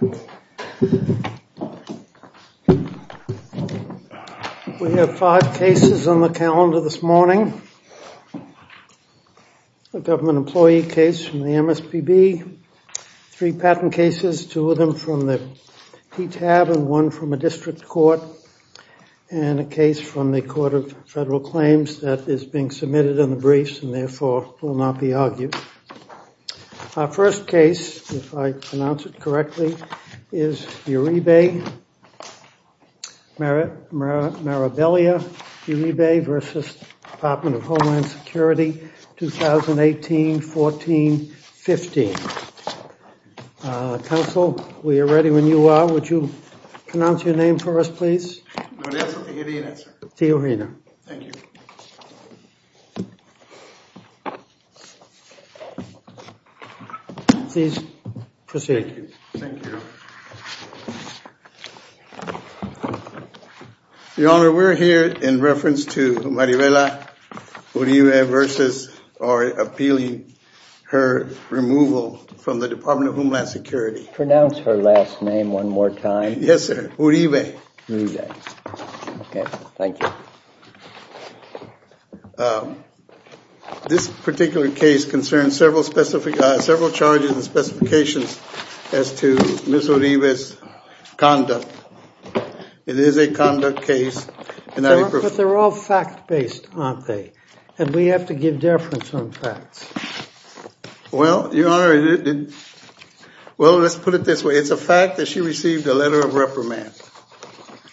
We have five cases on the calendar this morning, a government employee case from the MSPB, three patent cases, two of them from the TTAB and one from a district court, and a case from the Court of Federal Claims that is being submitted in the briefs and therefore will not be argued. Our first case, if I pronounce it correctly, is Uribe, Maribelia Uribe v. Department of Homeland Security, 2018-14-15. Counsel, we are ready when you are. Would you pronounce your name for us, please? Teohina. Teohina. Thank you. Please proceed. Thank you. Your Honor, we are here in reference to Maribelia Uribe v. or appealing her removal from the Department of Homeland Security. Pronounce her last name one more time. Yes, sir. Uribe. Uribe. Okay, thank you. This particular case concerns several charges and specifications as to Ms. Uribe's conduct. It is a conduct case. But they are all fact-based, aren't they? And we have to give deference on facts. Well, Your Honor, let's put it this way. It's a fact that she received a letter of reprimand.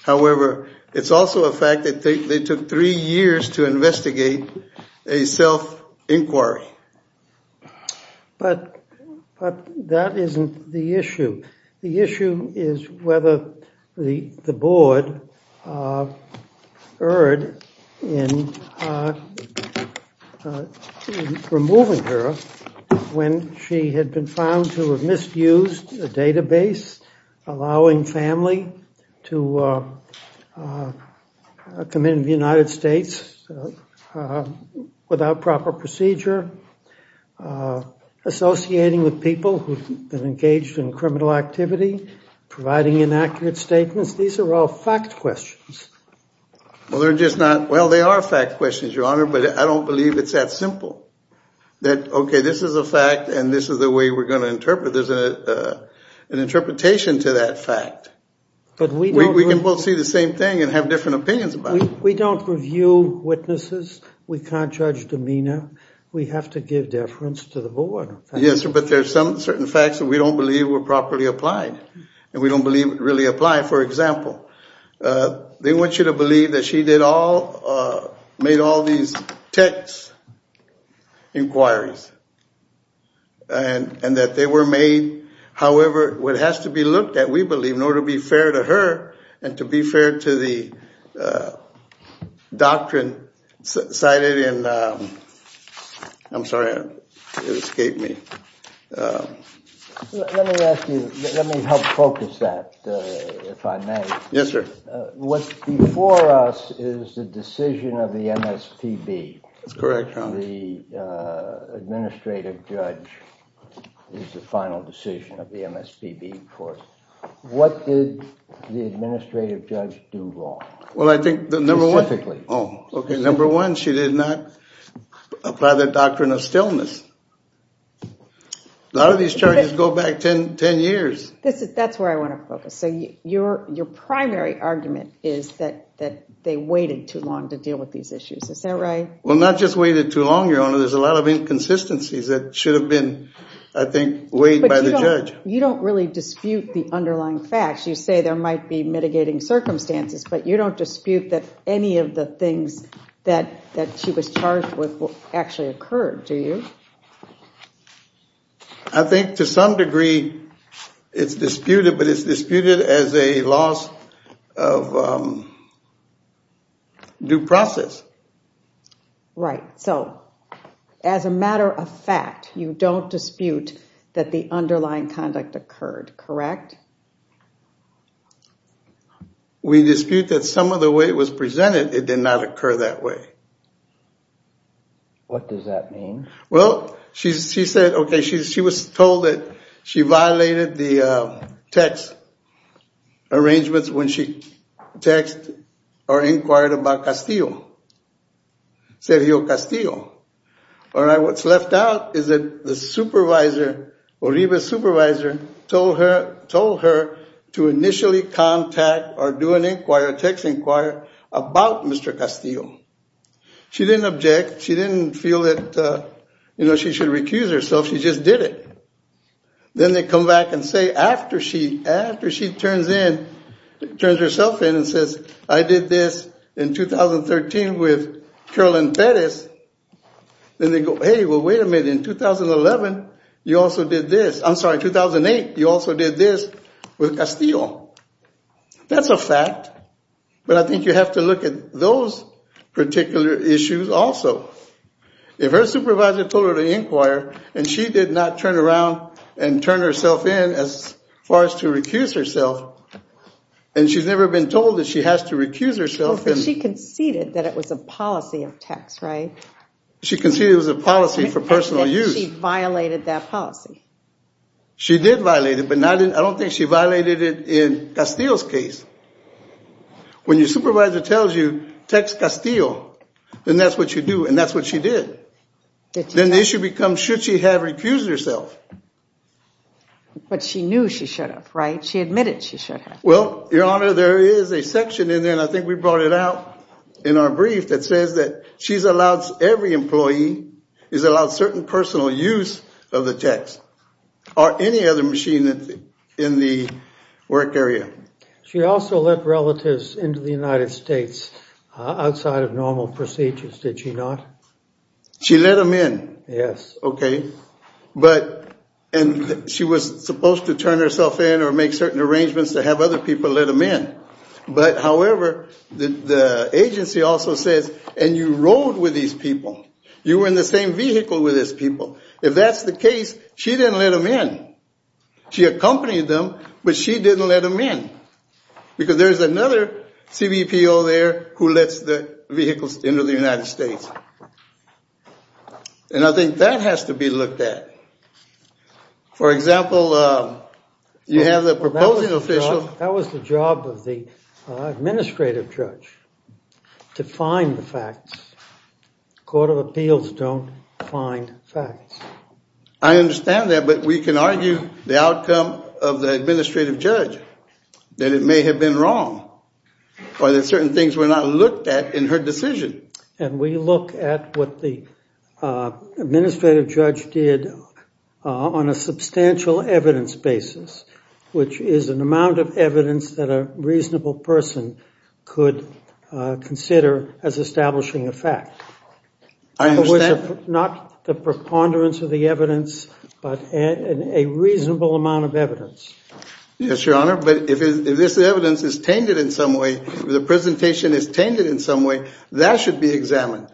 However, it's also a fact that they took three years to investigate a self-inquiry. But that isn't the issue. The issue is whether the board erred in removing her when she had been found to have misused a database, allowing family to come into the United States without proper procedure, associating with people who have been engaged in criminal activity, providing inaccurate statements. These are all fact questions. Well, they're just not. Well, they are fact questions, Your Honor, but I don't believe it's that simple. That, okay, this is a fact and this is the way we're going to interpret it. There's an interpretation to that fact. But we can both see the same thing and have different opinions about it. We don't review witnesses. We can't judge demeanor. We have to give deference to the board. Yes, but there's some certain facts that we don't believe were properly applied and we don't believe really apply. For example, they want you to believe that she made all these text inquiries and that they were made. However, what has to be looked at, we believe, in order to be fair to her and to be fair to the doctrine cited in, I'm sorry, it escaped me. Let me ask you, let me help focus that, if I may. Yes, sir. What's before us is the decision of the MSPB. That's correct, Your Honor. The administrative judge is the final decision of the MSPB, of course. What did the administrative judge do wrong? Well, I think the number one... Specifically. Oh, okay. Number one, she did not apply the doctrine of stillness. A lot of these charges go back 10 years. That's where I want to focus. So your primary argument is that they waited too long to deal with these issues. Is that right? Well, not just waited too long, Your Honor. There's a lot of inconsistencies that should have been, I think, weighed by the judge. You don't really dispute the underlying facts. You say there might be mitigating circumstances, but you don't dispute that any of the things that she was charged with actually occurred, do you? I think to some degree it's disputed, but it's disputed as a loss of due process. Right. So as a matter of fact, you don't dispute that the underlying conduct occurred, correct? We dispute that some of the way it was presented, it did not occur that way. What does that mean? Well, she said, okay, she was told that she violated the text arrangements when she inquired about Castillo, Sergio Castillo. All right. What's left out is that the supervisor, Oribe's supervisor, told her to initially contact or do an inquiry, a text inquiry about Mr. Castillo. She didn't object. She didn't feel that she should recuse herself. She just did it. Then they come back and say, after she turns herself in and says, I did this in 2013 with Carolyn Perez, then they go, hey, well, wait a minute. In 2011, you also did this. I'm sorry, 2008, you also did this with Castillo. That's a fact, but I think you have to look at those particular issues also. If her supervisor told her to inquire, and she did not turn around and turn herself in as far as to recuse herself, and she's never been told that she has to recuse herself. But she conceded that it was a policy of text, right? She conceded it was a policy for personal use. And she violated that policy. She did violate it, but I don't think she violated it in Castillo's case. When your supervisor tells you, text Castillo, then that's what you do. And that's what she did. Then the issue becomes, should she have recused herself? But she knew she should have, right? She admitted she should have. Well, Your Honor, there is a section in there, and I think we brought it out in our brief, that says that she's allowed, every employee is allowed certain personal use of the text. Or any other machine in the work area. She also let relatives into the United States outside of normal procedures, did she not? She let them in. Yes. Okay, but, and she was supposed to turn herself in, or make certain arrangements to have other people let them in. But however, the agency also says, and you rode with these people. You were in the same vehicle with these people. If that's the case, she didn't let them in. She accompanied them, but she didn't let them in. Because there's another CBPO there who lets the vehicles into the United States. And I think that has to be looked at. For example, you have the proposing official. That was the job of the administrative judge, to find the facts. Court of Appeals don't find facts. I understand that, but we can argue the outcome of the administrative judge, that it may have been wrong. Or that certain things were not looked at in her decision. And we look at what the administrative judge did on a substantial evidence basis, which is an amount of evidence that a reasonable person could consider as establishing a fact. I understand. In other words, not the preponderance of the evidence, but a reasonable amount of evidence. Yes, Your Honor, but if this evidence is tainted in some way, the presentation is tainted in some way, that should be examined.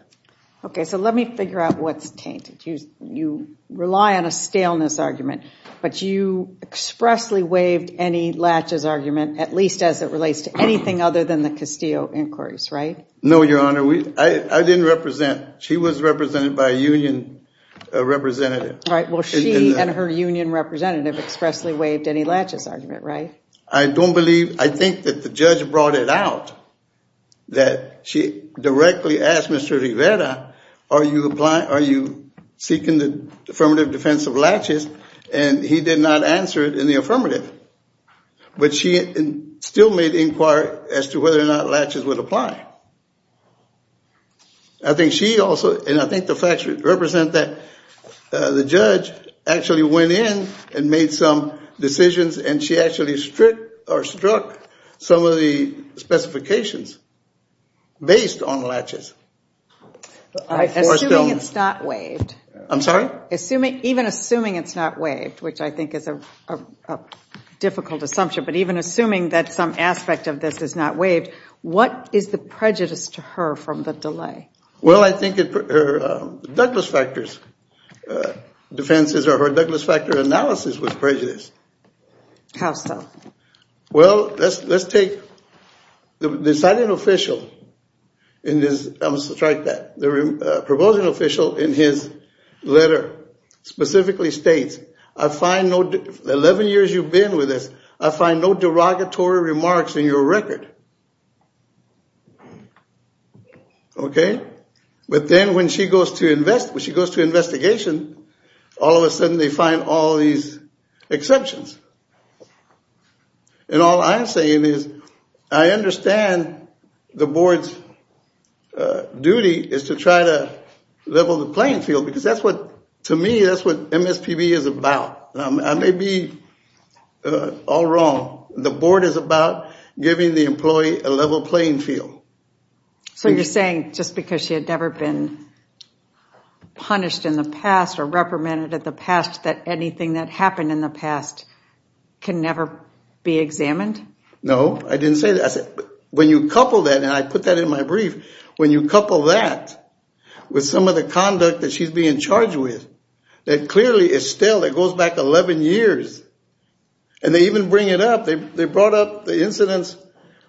Okay, so let me figure out what's tainted. You rely on a staleness argument, but you expressly waived any latches argument, at least as it relates to anything other than the Castillo inquiries, right? No, Your Honor, I didn't represent, she was represented by a union representative. All right, well, she and her union representative expressly waived any latches argument, right? I don't believe, I think that the judge brought it out, that she directly asked Mr. Rivera, are you seeking the affirmative defense of latches? And he did not answer it in the affirmative. But she still made inquiry as to whether or not latches would apply. I think she also, and I think the facts represent that, the judge actually went in and made some decisions and she actually stripped or struck some of the specifications based on latches. Assuming it's not waived. I'm sorry? Even assuming it's not waived, which I think is a difficult assumption, but even assuming that some aspect of this is not waived, what is the prejudice to her from the delay? Well, I think her Douglas factors defenses or her Douglas factor analysis was prejudiced. How so? Well, let's take the deciding official in this, I must strike that, the proposing official in his letter specifically states, I find no, 11 years you've been with us, I find no derogatory remarks in your record. Okay, but then when she goes to invest, when she goes to investigation, all of a sudden they find all these exceptions. And all I'm saying is, I understand the board's duty is to try to level the playing field, because that's what, to me, that's what MSPB is about. I may be all wrong. The board is about giving the employee a level playing field. So you're saying, just because she had never been punished in the past or reprimanded in the past, that anything that happened in the past can never be examined? No, I didn't say that. I said, when you couple that, and I put that in my brief, when you couple that with some of the conduct that she's being charged with, that clearly, Estelle, that goes back 11 years. And they even bring it up, they brought up the incidents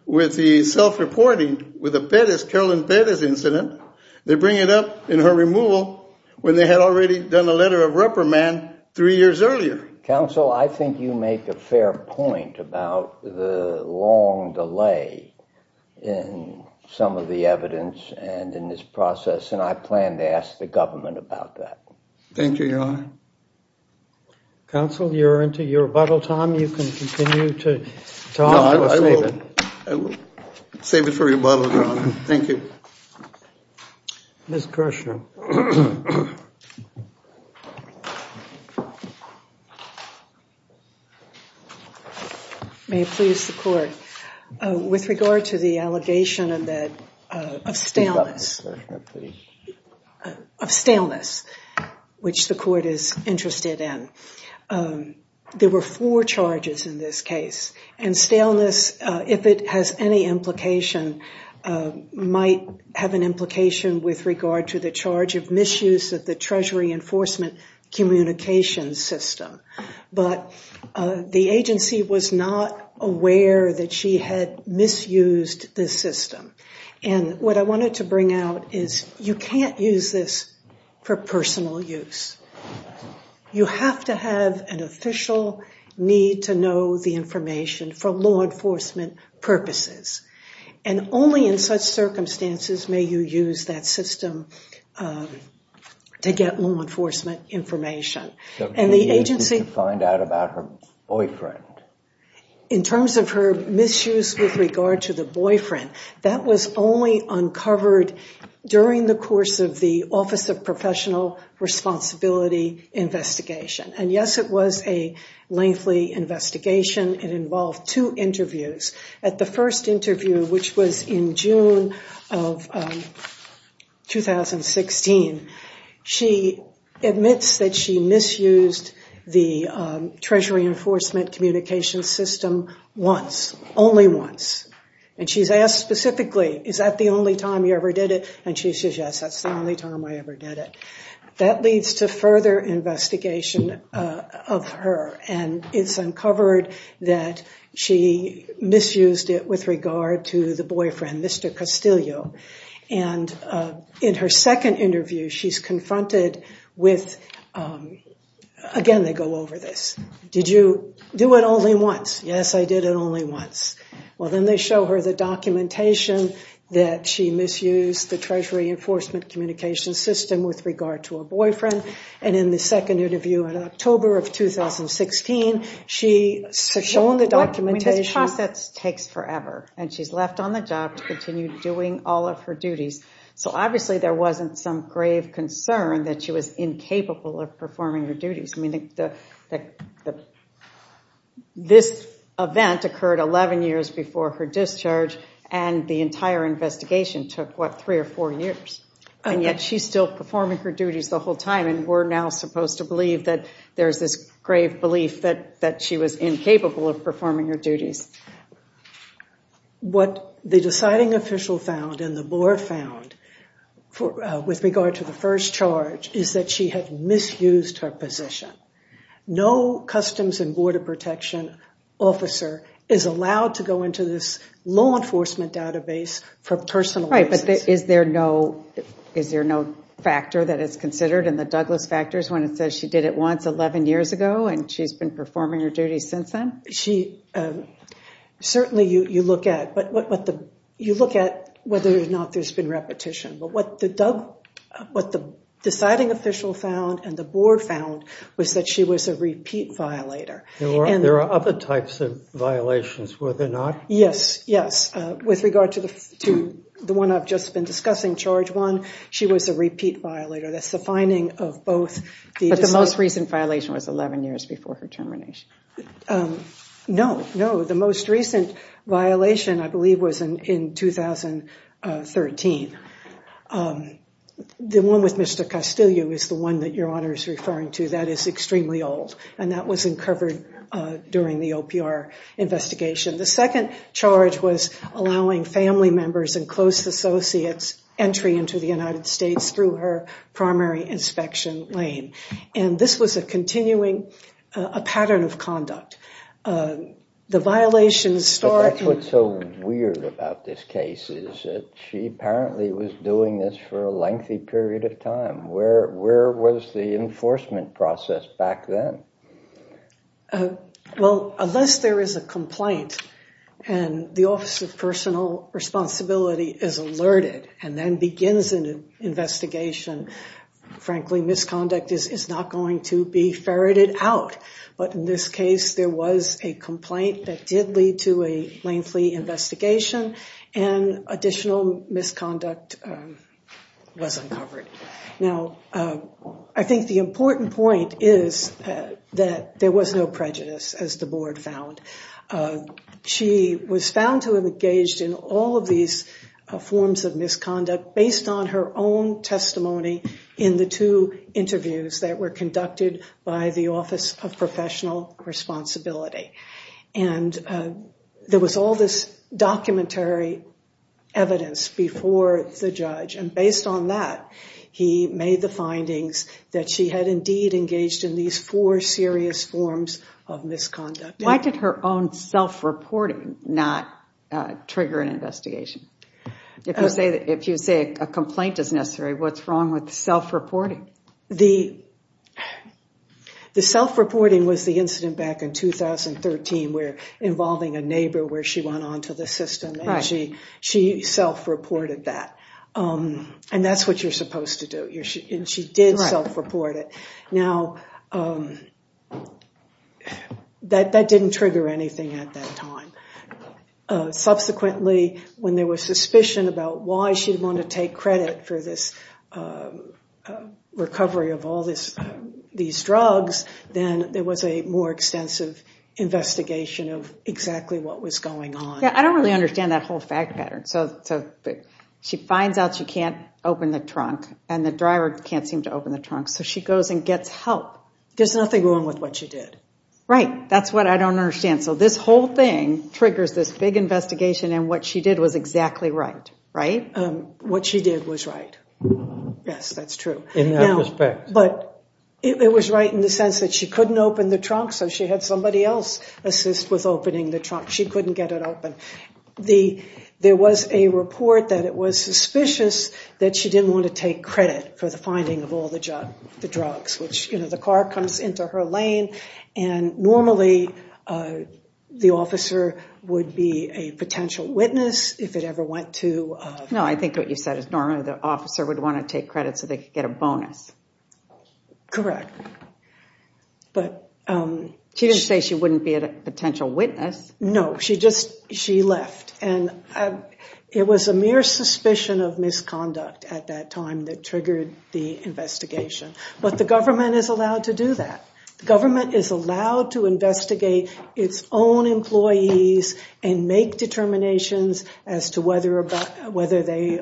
with the self-reporting with the Pettis, Carolyn Pettis incident. They bring it up in her removal, when they had already done a letter of reprimand three years earlier. Counsel, I think you make a fair point about the long delay in some of the evidence and in this process. And I plan to ask the government about that. Thank you, Your Honor. Counsel, you're into your rebuttal time. You can continue to talk. No, I will save it. I will save it for rebuttal, Your Honor. Thank you. Ms. Kirshner. May it please the court. With regard to the allegation of that, of staleness. Of staleness. Which the court is interested in. There were four charges in this case. And staleness, if it has any implication, might have an implication with regard to the charge of misuse of the Treasury Enforcement Communications System. But the agency was not aware that she had misused this system. And what I wanted to bring out is, you can't use this for personal use. You have to have an official need to know the information for law enforcement purposes. And only in such circumstances may you use that system to get law enforcement information. And the agency... To find out about her boyfriend. In terms of her misuse with regard to the boyfriend, that was only uncovered during the course of the Office of Professional Responsibility investigation. And yes, it was a lengthy investigation. It involved two interviews. At the first interview, which was in June of 2016, she admits that she misused the Treasury Enforcement Communications System once. Only once. And she's asked specifically, is that the only time you ever did it? And she says, yes, that's the only time I ever did it. That leads to further investigation of her. And it's uncovered that she misused it with regard to the boyfriend, Mr. Castillo. And in her second interview, she's confronted with... Again, they go over this. Did you do it only once? Yes, I did it only once. Well, then they show her the documentation that she misused the Treasury Enforcement Communications System with regard to a boyfriend. And in the second interview in October of 2016, she's shown the documentation... I mean, this process takes forever. And she's left on the job to continue doing all of her duties. that she was incapable of performing her duties. I mean, this event occurred 11 years before her discharge. And the entire investigation took, what, three or four years. And yet she's still performing her duties the whole time. And we're now supposed to believe that there's this grave belief that she was incapable of performing her duties. What the deciding official found and the board found with regard to the first charge is that she had misused her position. No Customs and Border Protection officer is allowed to go into this law enforcement database for personal... Right, but is there no factor that is considered in the Douglas factors when it says she did it once 11 years ago and she's been performing her duties since then? Certainly, you look at whether or not there's been repetition. But what the deciding official found and the board found was that she was a repeat violator. There are other types of violations, were there not? Yes, yes. With regard to the one I've just been discussing, charge one, she was a repeat violator. That's the finding of both the... But the most recent violation was 11 years before her termination. No, no. The most recent violation, I believe, was in 2013. The one with Mr. Castillo is the one that Your Honor is referring to. That is extremely old. And that was uncovered during the OPR investigation. The second charge was allowing family members and close associates entry into the United States through her primary inspection lane. And this was a continuing pattern of conduct. The violations start... But that's what's so weird about this case is that she apparently was doing this for a lengthy period of time. Where was the enforcement process back then? Well, unless there is a complaint and the Office of Personal Responsibility is alerted and then begins an investigation, frankly, misconduct is not going to be ferreted out. But in this case, there was a complaint that did lead to a lengthy investigation and additional misconduct was uncovered. Now, I think the important point is that there was no prejudice, as the Board found. She was found to have engaged in all of these forms of misconduct based on her own testimony in the two interviews that were conducted by the Office of Professional Responsibility. And there was all this documentary evidence before the judge. And based on that, he made the findings that she had indeed engaged in these four serious forms of misconduct. Why did her own self-reporting not trigger an investigation? If you say a complaint is necessary, what's wrong with self-reporting? The self-reporting was the incident back in 2013 where involving a neighbor where she went onto the system, and she self-reported that. And that's what you're supposed to do, and she did self-report it. Now, that didn't trigger anything at that time. Subsequently, when there was suspicion about why she'd want to take credit for this recovery of all these drugs, then there was a more extensive investigation of exactly what was going on. Yeah, I don't really understand that whole fact pattern. She finds out she can't open the trunk, and the driver can't seem to open the trunk, so she goes and gets help. There's nothing wrong with what she did. Right, that's what I don't understand. So this whole thing triggers this big investigation, and what she did was exactly right, right? What she did was right. Yes, that's true. In that respect. But it was right in the sense that she couldn't open the trunk, so she had somebody else assist with opening the trunk. She couldn't get it open. There was a report that it was suspicious that she didn't want to take credit for the finding of all the drugs, which, you know, the car comes into her lane, and normally the officer would be a potential witness if it ever went to... No, I think what you said is normally the officer would want to take credit so they could get a bonus. Correct, but... She didn't say she wouldn't be a potential witness. No, she just, she left. And it was a mere suspicion of misconduct at that time that triggered the investigation. But the government is allowed to do that. The government is allowed to investigate its own employees and make determinations as to whether they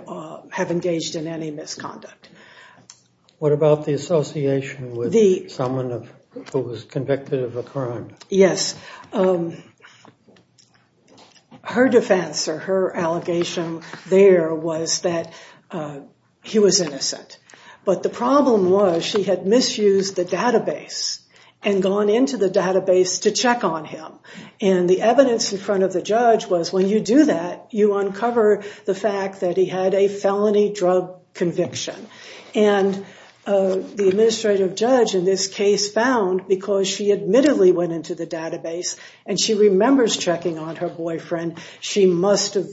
have engaged in any misconduct. What about the association with someone who was convicted of a crime? Yes. Her defense or her allegation there was that he was innocent. But the problem was she had misused the database and gone into the database to check on him. And the evidence in front of the judge was when you do that, you uncover the fact that he had a felony drug conviction. And the administrative judge in this case found, because she admittedly went into the database and she remembers checking on her boyfriend, she must have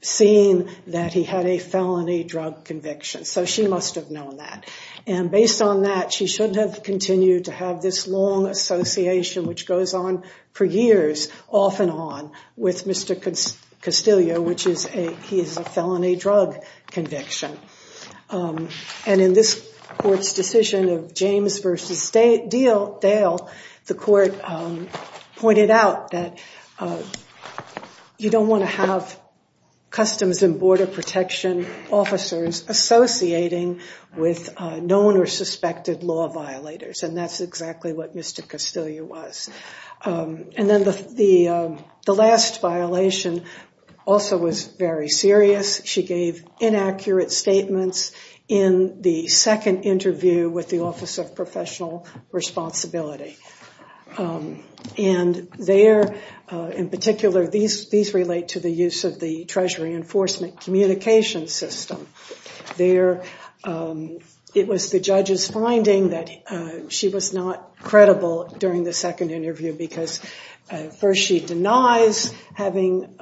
seen that he had a felony drug conviction. So she must have known that. And based on that, she shouldn't have continued to have this long association which goes on for years, off and on, with Mr. Castillo, which is a felony drug conviction. And in this court's decision of James v. Dale, the court pointed out that you don't want to have Customs and Border Protection officers associating with known or suspected law violators. And that's exactly what Mr. Castillo was. And then the last violation also was very serious. She gave inaccurate statements in the second interview with the Office of Professional Responsibility. And there, in particular, these relate to the use of the Treasury Enforcement Communications System. There, it was the judge's finding that she was not credible during the second interview because first, she denies having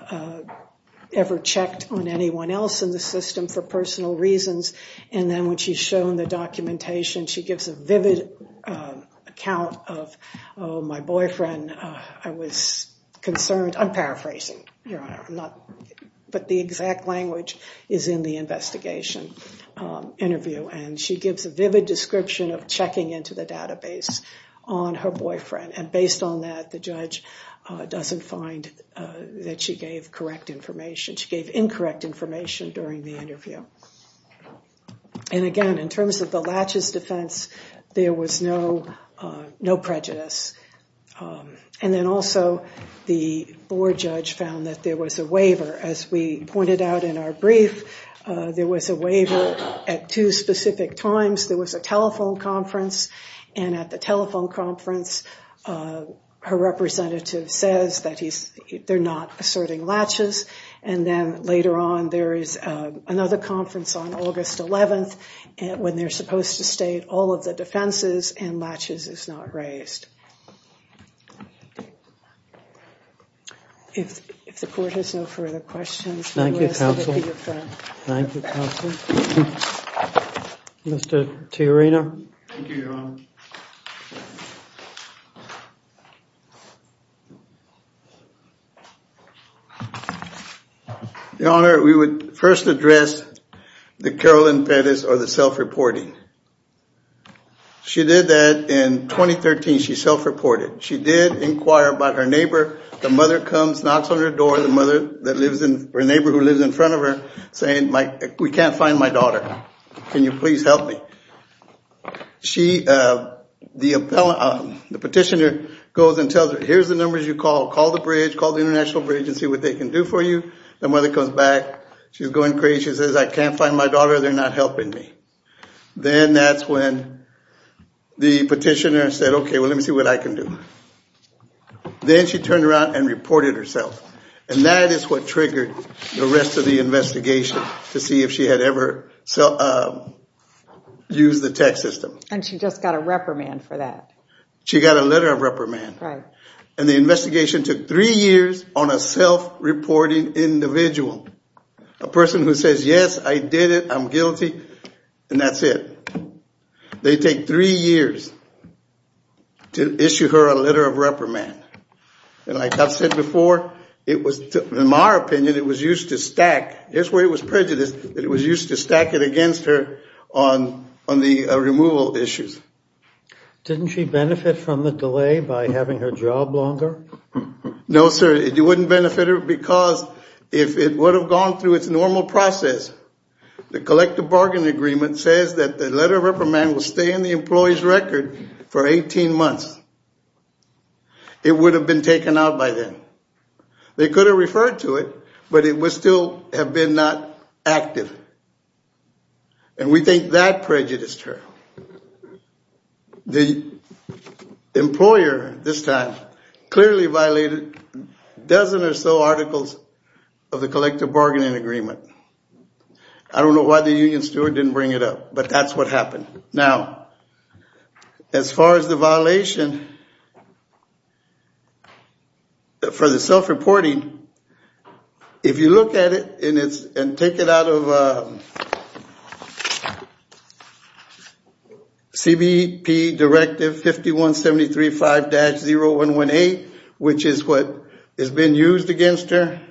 ever checked on anyone else in the system for personal reasons. And then when she's shown the documentation, she gives a vivid account of, oh, my boyfriend, I was concerned. I'm paraphrasing, Your Honor. But the exact language is in the investigation interview. And she gives a vivid description of checking into the database on her boyfriend. And based on that, the judge doesn't find that she gave correct information. She gave incorrect information during the interview. And again, in terms of the latches defense, there was no prejudice. And then also, the board judge found that there was a waiver. As we pointed out in our brief, there was a waiver at two specific times. There was a telephone conference. And at the telephone conference, her representative says that they're not asserting latches. And then later on, there is another conference on August 11th when they're supposed to state all of the defenses and latches is not raised. If the court has no further questions, the rest will be your friend. Thank you, counsel. Thank you, counsel. Mr. Tiarina. Thank you, Your Honor. Your Honor, we would first address the Carolyn Pettis or the self-reporting. She said, I'm going to do a self-reporting. She did inquire about her neighbor. The mother comes, knocks on her door. The mother, her neighbor who lives in front of her, saying, we can't find my daughter. Can you please help me? The petitioner goes and tells her, here's the numbers you called. Call the bridge. Call the International Bridge and see what they can do for you. The mother comes back. She's going crazy. She says, I can't find my daughter. They're not helping me. Then that's when the petitioner said, well, let me see what I can do. Then she turned around and reported herself. And that is what triggered the rest of the investigation to see if she had ever used the tech system. And she just got a reprimand for that. She got a letter of reprimand. Right. And the investigation took three years on a self-reporting individual, a person who says, yes, I did it. I'm guilty. And that's it. They take three years to issue her a letter of reprimand. And like I've said before, in my opinion, it was used to stack. Here's where it was prejudiced, that it was used to stack it against her on the removal issues. Didn't she benefit from the delay by having her job longer? No, sir, it wouldn't benefit her because if it would have gone through its normal process, the collective bargaining agreement says that the letter of reprimand will stay in the employee's record for 18 months. It would have been taken out by then. They could have referred to it, but it would still have been not active. And we think that prejudiced her. The employer this time clearly violated a dozen or so articles of the collective bargaining agreement. I don't know why the union steward didn't bring it up, but that's what happened. Now, as far as the violation for the self-reporting, if you look at it and take it out of CBP Directive 51735-0118, which is what has been used against her,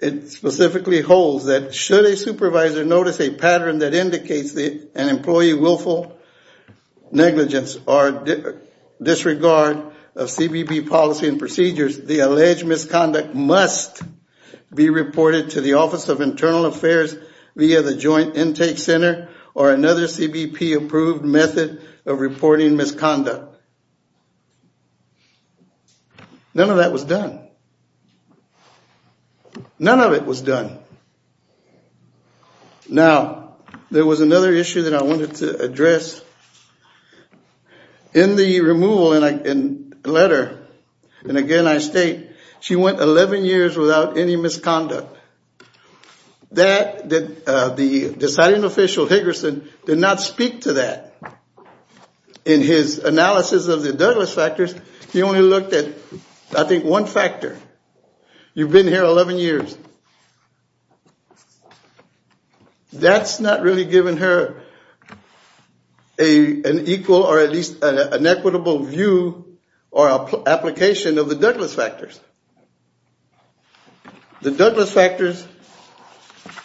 it specifically holds that, should a supervisor notice a pattern that indicates an employee willful negligence or disregard of CBP policy and procedures, the alleged misconduct must be reported to the Office of Internal Affairs via the Joint Intake Center or another CBP-approved method of reporting misconduct. None of that was done. None of it was done. Now, there was another issue that I wanted to address. In the removal letter, and again, I state, she went 11 years without any misconduct. That, the deciding official, Higgerson, did not speak to that. In his analysis of the Douglas factors, he only looked at, I think, one factor. You've been here 11 years. That's not really given her an equal or at least an equitable view or application of the Douglas factors. The Douglas factors,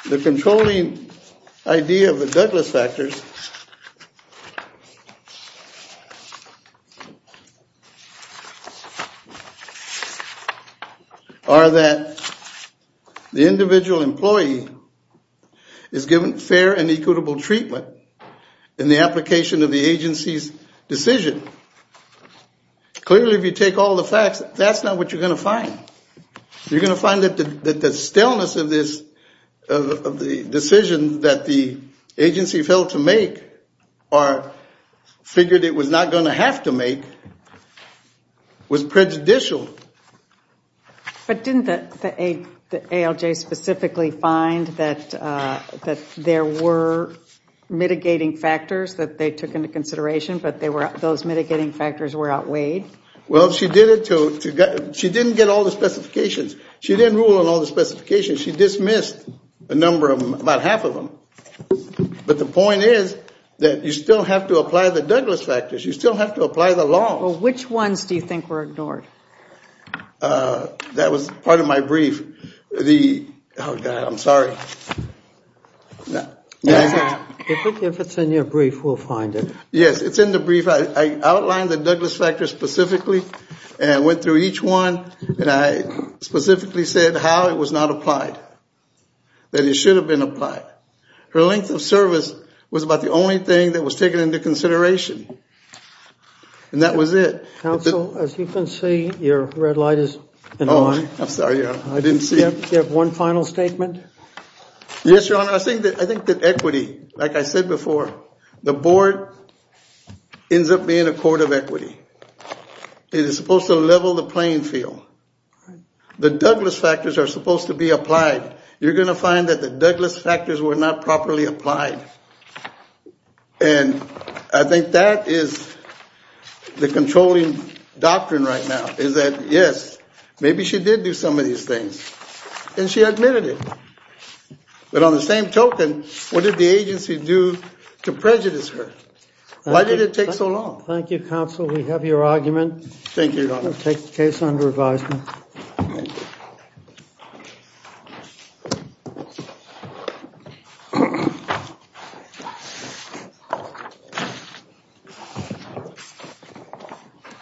the controlling idea of the Douglas factors, are that the individual employee is given fair and equitable treatment in the application of the agency's decision. Clearly, if you take all the facts, that's not what you're gonna find. You're gonna find that the staleness of this, of the decision that the agency failed to make or figured it was not gonna have to make was prejudicial but didn't the ALJ specifically find that there were mitigating factors that they took into consideration but those mitigating factors were outweighed? Well, she didn't get all the specifications. She didn't rule on all the specifications. She dismissed a number of them, about half of them but the point is that you still have to apply the Douglas factors. You still have to apply the law. Well, which ones do you think were ignored? That was part of my brief. The, oh God, I'm sorry. If it's in your brief, we'll find it. Yes, it's in the brief. I outlined the Douglas factors specifically and went through each one and I specifically said how it was not applied. That it should have been applied. Her length of service was about the only thing that was taken into consideration and that was it. Counsel, as you can see, your red light is in the line. I'm sorry, I didn't see it. You have one final statement. Yes, Your Honor, I think that equity, like I said before, the board ends up being a court of equity. It is supposed to level the playing field. The Douglas factors are supposed to be applied. You're gonna find that the Douglas factors were not properly applied and I think that is the controlling doctrine right now is that, yes, maybe she did do some of these things and she admitted it, but on the same token, what did the agency do to prejudice her? Why did it take so long? Thank you, Counsel. We have your argument. Thank you, Your Honor. We'll take the case under advisement. Thank you.